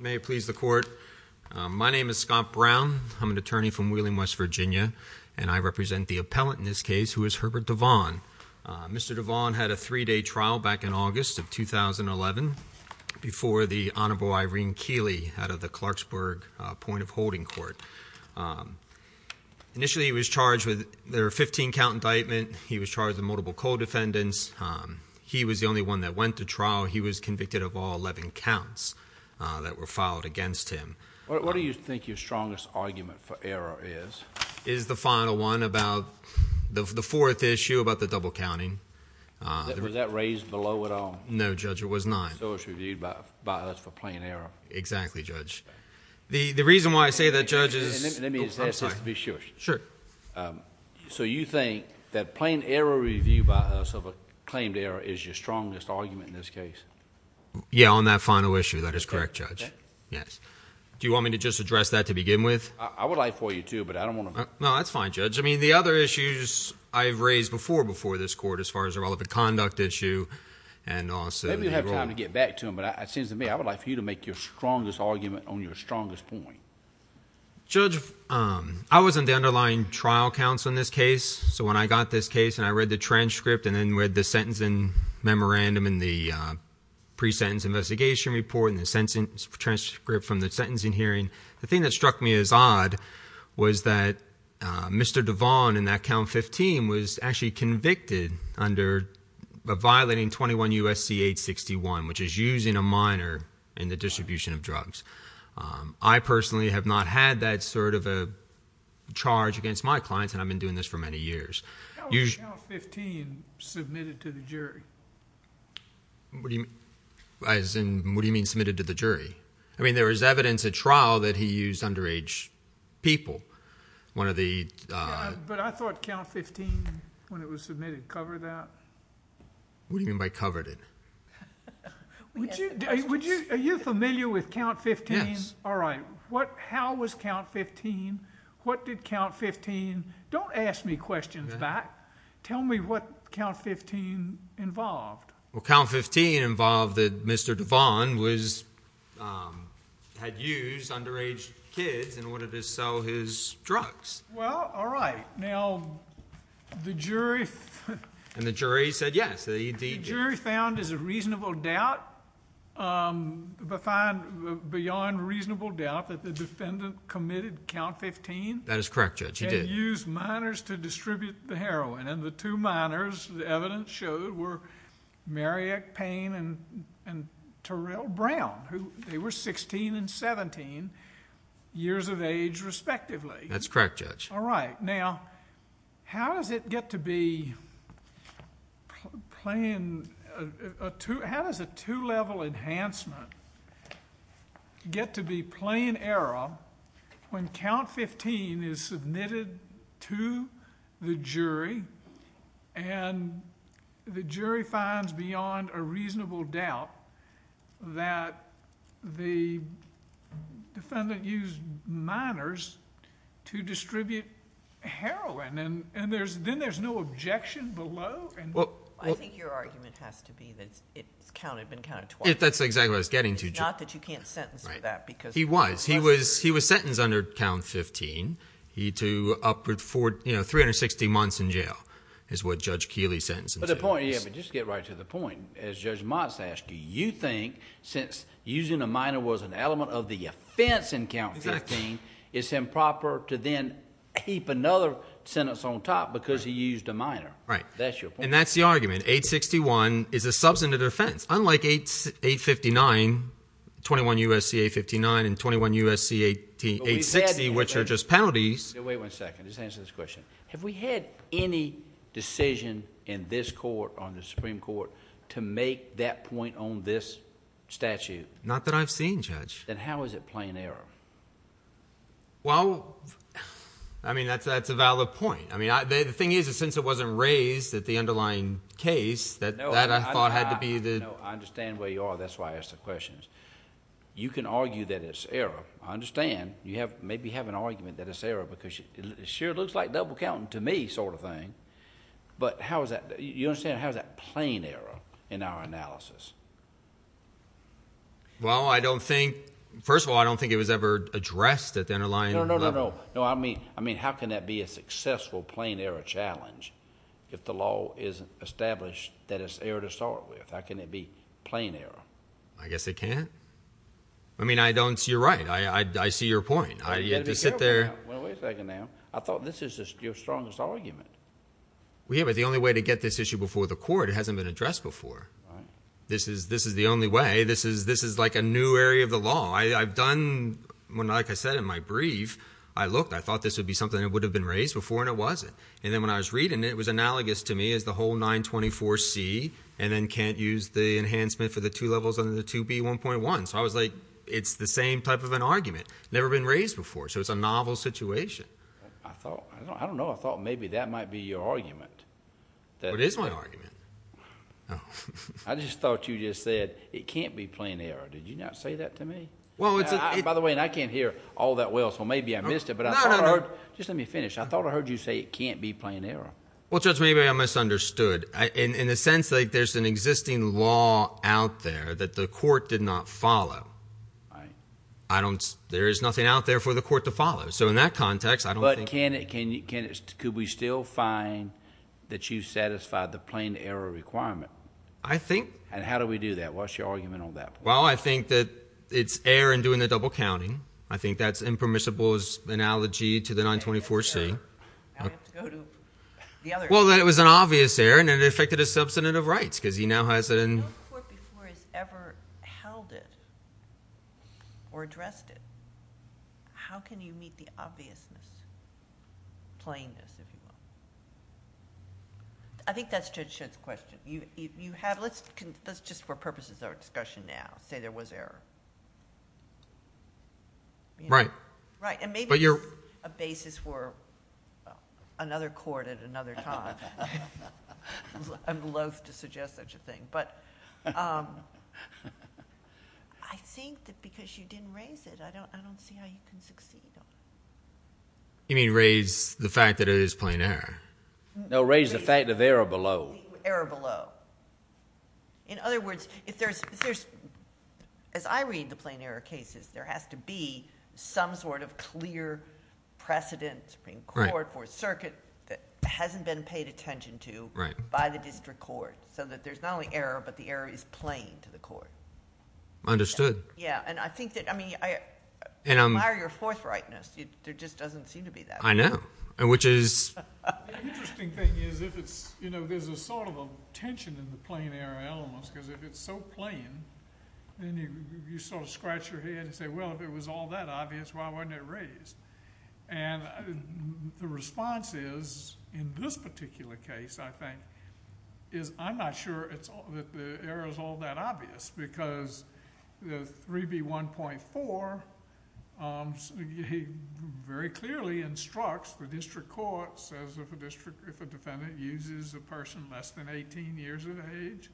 May it please the court. My name is Scott Brown. I'm an attorney from Wheeling, West Virginia, and I represent the appellant in this case, who is Herbert DeVaughn. Mr. DeVaughn had a three-day trial back in August of 2011 before the Honorable Irene Keeley out of the Clarksburg Point of Holding Court. Initially, he was charged with a 15-count indictment. He was charged with multiple co-defendants. He was the only one that went to trial. He was convicted of all 11 counts that were filed against him. What do you think your strongest argument for error is? It is the final one about the fourth issue about the double counting. Was that raised below at all? No, Judge, it was nine. So it was reviewed by us for plain error. Exactly, Judge. The reason why I say that, Judge, is – Let me ask this just to be sure. Sure. So you think that plain error review by us of a claimed error is your strongest argument in this case? Yeah, on that final issue. That is correct, Judge. Yes. Do you want me to just address that to begin with? I would like for you to, but I don't want to – No, that's fine, Judge. I mean, the other issues I've raised before before this court as far as the relevant conduct issue and also – Maybe you'll have time to get back to them, but it seems to me I would like for you to make your strongest argument on your strongest point. Judge, I was on the underlying trial counsel in this case. So when I got this case and I read the transcript and then read the sentencing memorandum and the pre-sentence investigation report and the transcript from the sentencing hearing, the thing that struck me as odd was that Mr. Devon in that count 15 was actually convicted under violating 21 U.S.C. 861, which is using a minor in the distribution of drugs. I personally have not had that sort of a charge against my clients, and I've been doing this for many years. How was count 15 submitted to the jury? What do you mean submitted to the jury? I mean there was evidence at trial that he used underage people. But I thought count 15 when it was submitted covered that. What do you mean by covered it? Are you familiar with count 15? Yes. All right. How was count 15? What did count 15? Don't ask me questions back. Tell me what count 15 involved. Well, count 15 involved that Mr. Devon had used underage kids in order to sell his drugs. Well, all right. Now, the jury. And the jury said yes. The jury found there's a reasonable doubt, beyond reasonable doubt, that the defendant committed count 15. That is correct, Judge. He did. And used minors to distribute the heroin. And the two minors, the evidence showed, were Marriott Payne and Terrell Brown. They were 16 and 17 years of age, respectively. That's correct, Judge. All right. Now, how does it get to be plain – how does a two-level enhancement get to be plain error when count 15 is submitted to the jury and the jury finds, beyond a reasonable doubt, that the defendant used minors to distribute heroin? And then there's no objection below? I think your argument has to be that it's been counted twice. That's exactly what I was getting to, Judge. It's not that you can't sentence him for that. He was. He was sentenced under count 15. He to upward – you know, 360 months in jail is what Judge Keeley sentenced him to. But the point – yeah, but just to get right to the point, as Judge Motz asked you, you think since using a minor was an element of the offense in count 15, it's improper to then keep another sentence on top because he used a minor. Right. That's your point. And that's the argument. 861 is a substantive offense. Unlike 859, 21 U.S.C. 859 and 21 U.S.C. 860, which are just penalties. Wait one second. Just answer this question. Have we had any decision in this court, on the Supreme Court, to make that point on this statute? Not that I've seen, Judge. Then how is it plain error? Well, I mean that's a valid point. I mean the thing is that since it wasn't raised at the underlying case, that I thought had to be the... No, I understand where you are. That's why I asked the question. You can argue that it's error. I understand. You maybe have an argument that it's error because it sure looks like double counting to me sort of thing. But how is that – you understand how is that plain error in our analysis? Well, I don't think – first of all, I don't think it was ever addressed at the underlying level. No, no, no, no. No, I mean how can that be a successful plain error challenge if the law isn't established that it's error to start with? How can it be plain error? I guess it can't. I mean I don't – you're right. I see your point. You've got to be careful now. Wait a second now. I thought this is your strongest argument. Yeah, but the only way to get this issue before the court, it hasn't been addressed before. Right. This is the only way. This is like a new area of the law. I've done – like I said in my brief, I looked. I thought this would be something that would have been raised before and it wasn't. And then when I was reading it, it was analogous to me as the whole 924C and then can't use the enhancement for the two levels under the 2B1.1. So I was like it's the same type of an argument, never been raised before. So it's a novel situation. I thought – I don't know. I thought maybe that might be your argument. It is my argument. I just thought you just said it can't be plain error. Did you not say that to me? By the way, I can't hear all that well, so maybe I missed it. But I thought I heard – just let me finish. I thought I heard you say it can't be plain error. Well, Judge, maybe I misunderstood. In a sense, like there's an existing law out there that the court did not follow. Right. There is nothing out there for the court to follow. So in that context, I don't think – But can it – could we still find that you satisfied the plain error requirement? I think – And how do we do that? I lost your argument on that point. Well, I think that it's error in doing the double counting. I think that's impermissible's analogy to the 924C. Now we have to go to the other – Well, that it was an obvious error and it affected his substantive rights because he now has it in – No court before has ever held it or addressed it. How can you meet the obviousness, plainness, if you will? I think that's Judge Shedd's question. Let's just for purposes of our discussion now say there was error. Right. Right, and maybe it's a basis for another court at another time. I'm loath to suggest such a thing. But I think that because you didn't raise it, I don't see how you can succeed. You mean raise the fact that it is plain error? No, raise the fact of error below. Error below. In other words, if there's – as I read the plain error cases, there has to be some sort of clear precedent in court for a circuit that hasn't been paid attention to by the district court so that there's not only error, but the error is plain to the court. Understood. Yeah, and I think that – I mean I admire your forthrightness. There just doesn't seem to be that. I know, which is – The interesting thing is if it's – you know, there's a sort of a tension in the plain error elements because if it's so plain, then you sort of scratch your head and say, well, if it was all that obvious, why wasn't it raised? And the response is in this particular case, I think, is I'm not sure that the error is all that obvious because the 3B1.4 very clearly instructs the district court, says if a defendant uses a person less than 18 years of age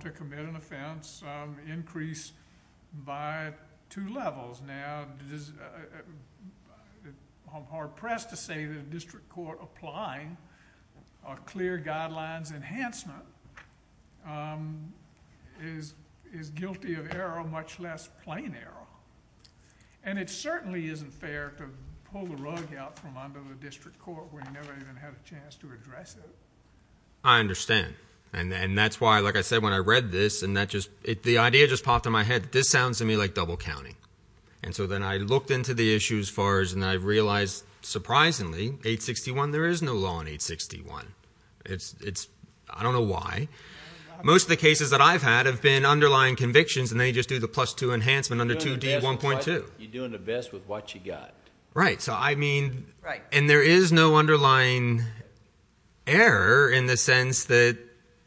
to commit an offense, increase by two levels. Now, I'm hard-pressed to say that a district court applying a clear guidelines enhancement is guilty of error, much less plain error. And it certainly isn't fair to pull the rug out from under the district court where you never even had a chance to address it. I understand. And that's why, like I said, when I read this and that just – the idea just popped in my head. This sounds to me like double counting. And so then I looked into the issue as far as – and then I realized surprisingly, 861, there is no law in 861. It's – I don't know why. Most of the cases that I've had have been underlying convictions and they just do the plus two enhancement under 2D1.2. You're doing the best with what you got. Right. So I mean – and there is no underlying error in the sense that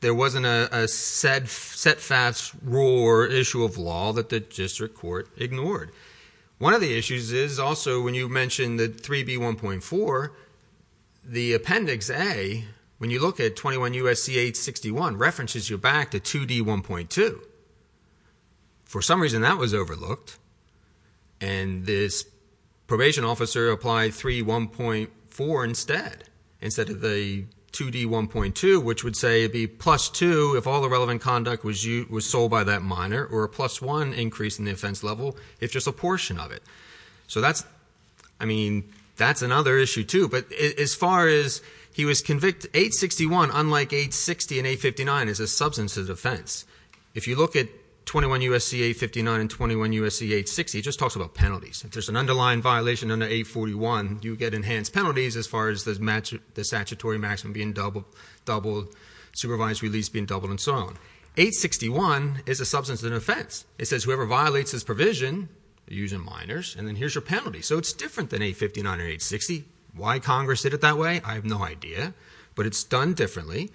there wasn't a set fast rule or issue of law that the district court ignored. One of the issues is also when you mentioned the 3B1.4, the appendix A, when you look at 21 U.S.C. 861, references you back to 2D1.2. For some reason, that was overlooked, and this probation officer applied 3B1.4 instead, instead of the 2D1.2, which would say it would be plus two if all the relevant conduct was sold by that minor or a plus one increase in the offense level if just a portion of it. So that's – I mean that's another issue too. But as far as he was convicted, 861, unlike 860 and 859, is a substantive offense. If you look at 21 U.S.C. 859 and 21 U.S.C. 860, it just talks about penalties. If there's an underlying violation under 841, you get enhanced penalties as far as the statutory maximum being doubled, supervised release being doubled, and so on. 861 is a substantive offense. It says whoever violates this provision, they're using minors, and then here's your penalty. So it's different than 859 or 860. Why Congress did it that way, I have no idea, but it's done differently.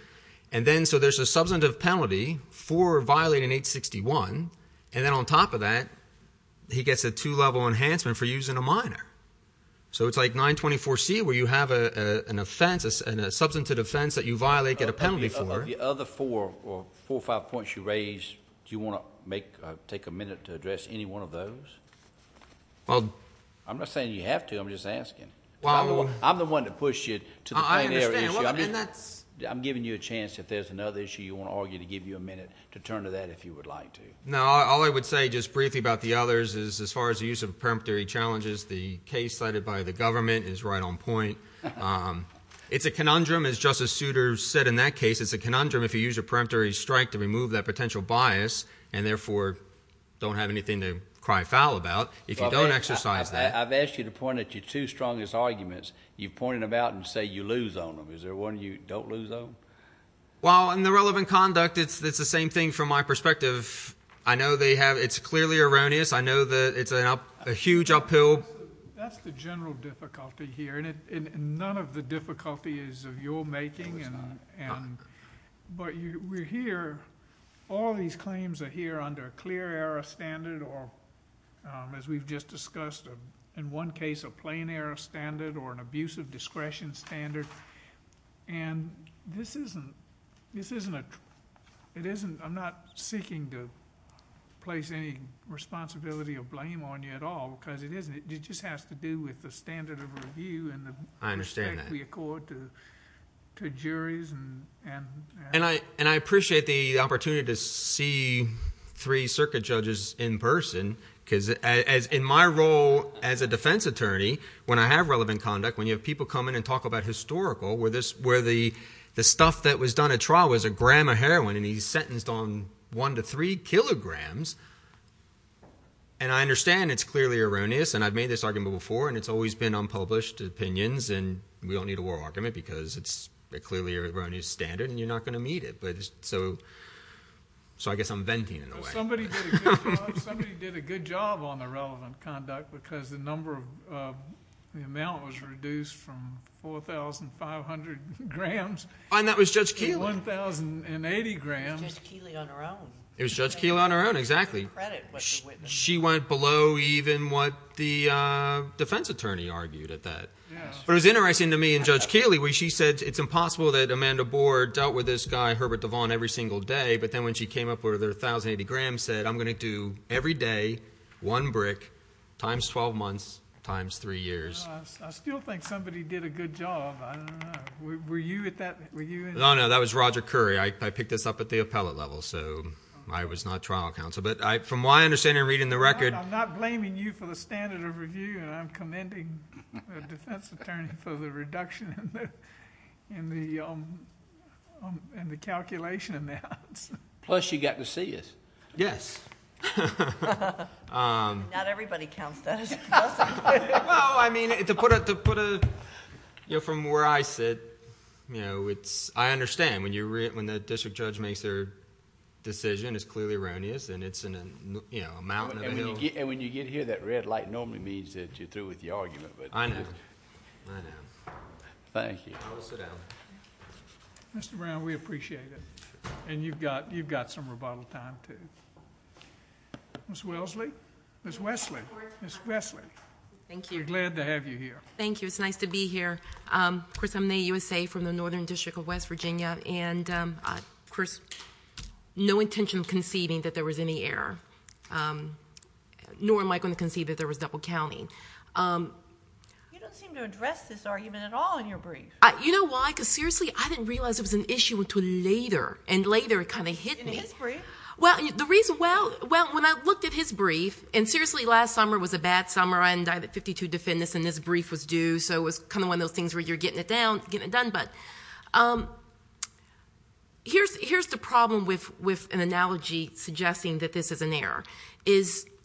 And then so there's a substantive penalty for violating 861, and then on top of that, he gets a two-level enhancement for using a minor. So it's like 924C where you have an offense, a substantive offense that you violate, get a penalty for. Of the other four or four or five points you raised, do you want to make – take a minute to address any one of those? I'm not saying you have to. I'm just asking. I'm the one that pushed you to the primary issue. I'm giving you a chance if there's another issue you want to argue to give you a minute to turn to that if you would like to. No, all I would say just briefly about the others is as far as the use of preemptory challenges, the case cited by the government is right on point. It's a conundrum, as Justice Souter said in that case, it's a conundrum if you use a preemptory strike to remove that potential bias and therefore don't have anything to cry foul about if you don't exercise that. I've asked you to point at your two strongest arguments. You've pointed them out and say you lose on them. Is there one you don't lose on? Well, in the relevant conduct, it's the same thing from my perspective. I know they have – it's clearly erroneous. I know that it's a huge uphill. That's the general difficulty here, and none of the difficulty is of your making. No, it's not. But we're here – all these claims are here under a clear error standard or, as we've just discussed, in one case a plain error standard or an abusive discretion standard. And this isn't – this isn't a – it isn't – I'm not seeking to place any responsibility or blame on you at all because it isn't. It just has to do with the standard of review and the respect we accord to juries and I appreciate the opportunity to see three circuit judges in person because in my role as a defense attorney, when I have relevant conduct, when you have people come in and talk about historical, where the stuff that was done at trial was a gram of heroin and he's sentenced on one to three kilograms, and I understand it's clearly erroneous and I've made this argument before and it's always been unpublished opinions and we don't need a war argument because it's clearly an erroneous standard and you're not going to meet it. So I guess I'm venting in a way. Somebody did a good job. Somebody did a good job on the relevant conduct because the number of – the amount was reduced from 4,500 grams to 1,080 grams. And that was Judge Keeley. Judge Keeley on her own. It was Judge Keeley on her own, exactly. She went below even what the defense attorney argued at that. But it was interesting to me in Judge Keeley where she said it's impossible that Amanda Boer dealt with this guy, Herbert Devon, every single day, but then when she came up with her 1,080 grams said, I'm going to do every day one brick times 12 months times three years. I still think somebody did a good job. I don't know. Were you at that – were you – No, no. That was Roger Curry. I picked this up at the appellate level, so I was not trial counsel. But from what I understand in reading the record – That's the attorney for the reduction in the calculation amounts. Plus you got to see it. Yes. Not everybody counts that as a plus. Well, I mean to put a – from where I sit, I understand when the district judge makes their decision it's clearly erroneous and it's a mountain of... And when you get here, that red light normally means that you're through with your argument. I know. I know. Thank you. I'll sit down. Mr. Brown, we appreciate it. And you've got some rebuttal time, too. Ms. Wellesley? Ms. Wesley? Ms. Wesley. Thank you. We're glad to have you here. Thank you. It's nice to be here. Of course, I'm the USA from the Northern District of West Virginia. And, of course, no intention of conceding that there was any error. Nor am I going to concede that there was double counting. You don't seem to address this argument at all in your brief. You know why? Because seriously, I didn't realize it was an issue until later. And later it kind of hit me. In his brief? Well, the reason – well, when I looked at his brief – and seriously, last summer was a bad summer. I had 52 defendants and this brief was due, so it was kind of one of those things where you're getting it done. But here's the problem with an analogy suggesting that this is an error.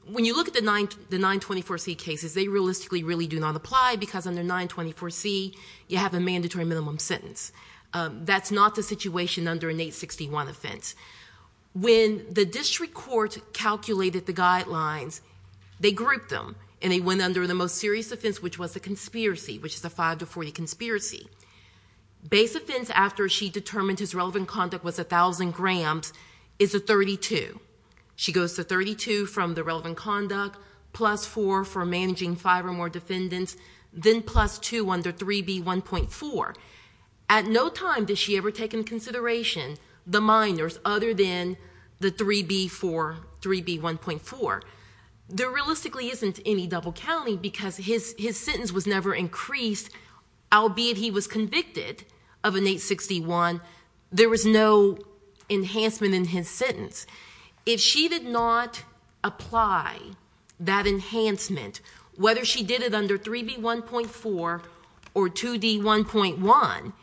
When you look at the 924C cases, they realistically really do not apply because under 924C you have a mandatory minimum sentence. That's not the situation under an 861 offense. When the district court calculated the guidelines, they grouped them. And they went under the most serious offense, which was a conspiracy, which is a 5 to 40 conspiracy. Base offense after she determined his relevant conduct was 1,000 grams is a 32. She goes to 32 from the relevant conduct, plus 4 for managing 5 or more defendants, then plus 2 under 3B1.4. At no time does she ever take into consideration the minors other than the 3B4, 3B1.4. There realistically isn't any double counting because his sentence was never increased, albeit he was convicted of an 861. There was no enhancement in his sentence. If she did not apply that enhancement, whether she did it under 3B1.4 or 2D1.1,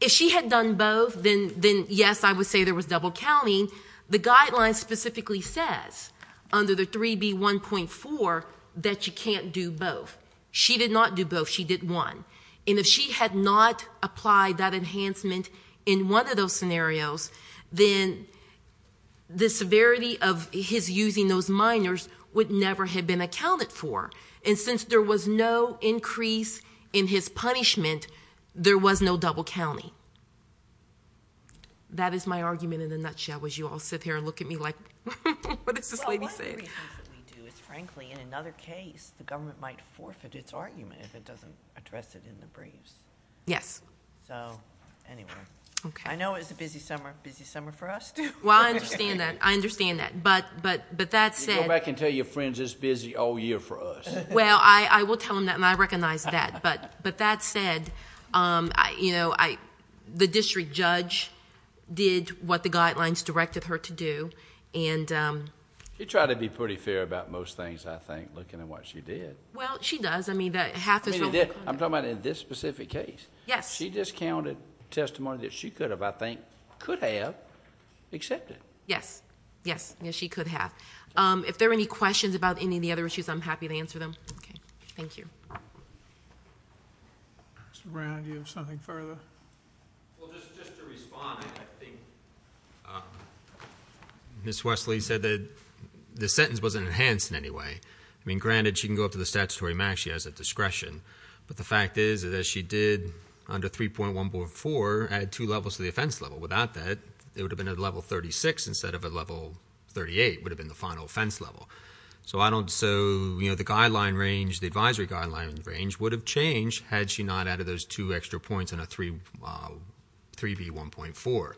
if she had done both, then yes, I would say there was double counting. The guidelines specifically says under the 3B1.4 that you can't do both. She did not do both. She did one. And if she had not applied that enhancement in one of those scenarios, then the severity of his using those minors would never have been accounted for. And since there was no increase in his punishment, there was no double counting. That is my argument in a nutshell as you all sit here and look at me like, what is this lady saying? Frankly, in another case, the government might forfeit its argument if it doesn't address it in the briefs. Yes. So, anyway. Okay. I know it's a busy summer. Busy summer for us, too. Well, I understand that. I understand that. But that said... You go back and tell your friends it's busy all year for us. Well, I will tell them that, and I recognize that. But that said, the district judge did what the guidelines directed her to do. She tried to be pretty fair about most things, I think, looking at what she did. Well, she does. I mean, half is... I'm talking about in this specific case. Yes. She discounted testimony that she could have, I think, could have accepted. Yes. Yes. Yes, she could have. If there are any questions about any of the other issues, I'm happy to answer them. Okay. Thank you. Mr. Brown, do you have something further? Well, just to respond, I think Ms. Wesley said that the sentence wasn't enhanced in any way. I mean, granted, she can go up to the statutory max. She has that discretion. But the fact is that she did, under 3.144, add two levels to the offense level. Without that, it would have been at level 36 instead of at level 38. It would have been the final offense level. So the guideline range, the advisory guideline range, would have changed had she not added those two extra points in a 3B1.4.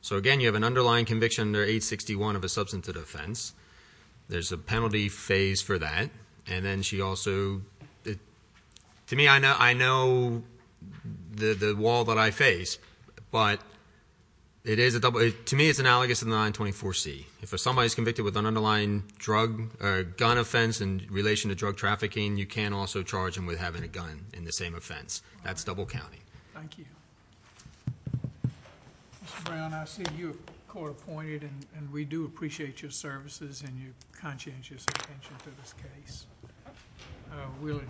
So, again, you have an underlying conviction under 861 of a substantive offense. There's a penalty phase for that. And then she also... To me, I know the wall that I face, but it is a double... To me, it's analogous to 924C. If somebody is convicted with an underlying gun offense in relation to drug trafficking, you can also charge them with having a gun in the same offense. That's double counting. Thank you. Mr. Brown, I see you are court appointed. And we do appreciate your services and your conscientious attention to this case. We'll adjourn.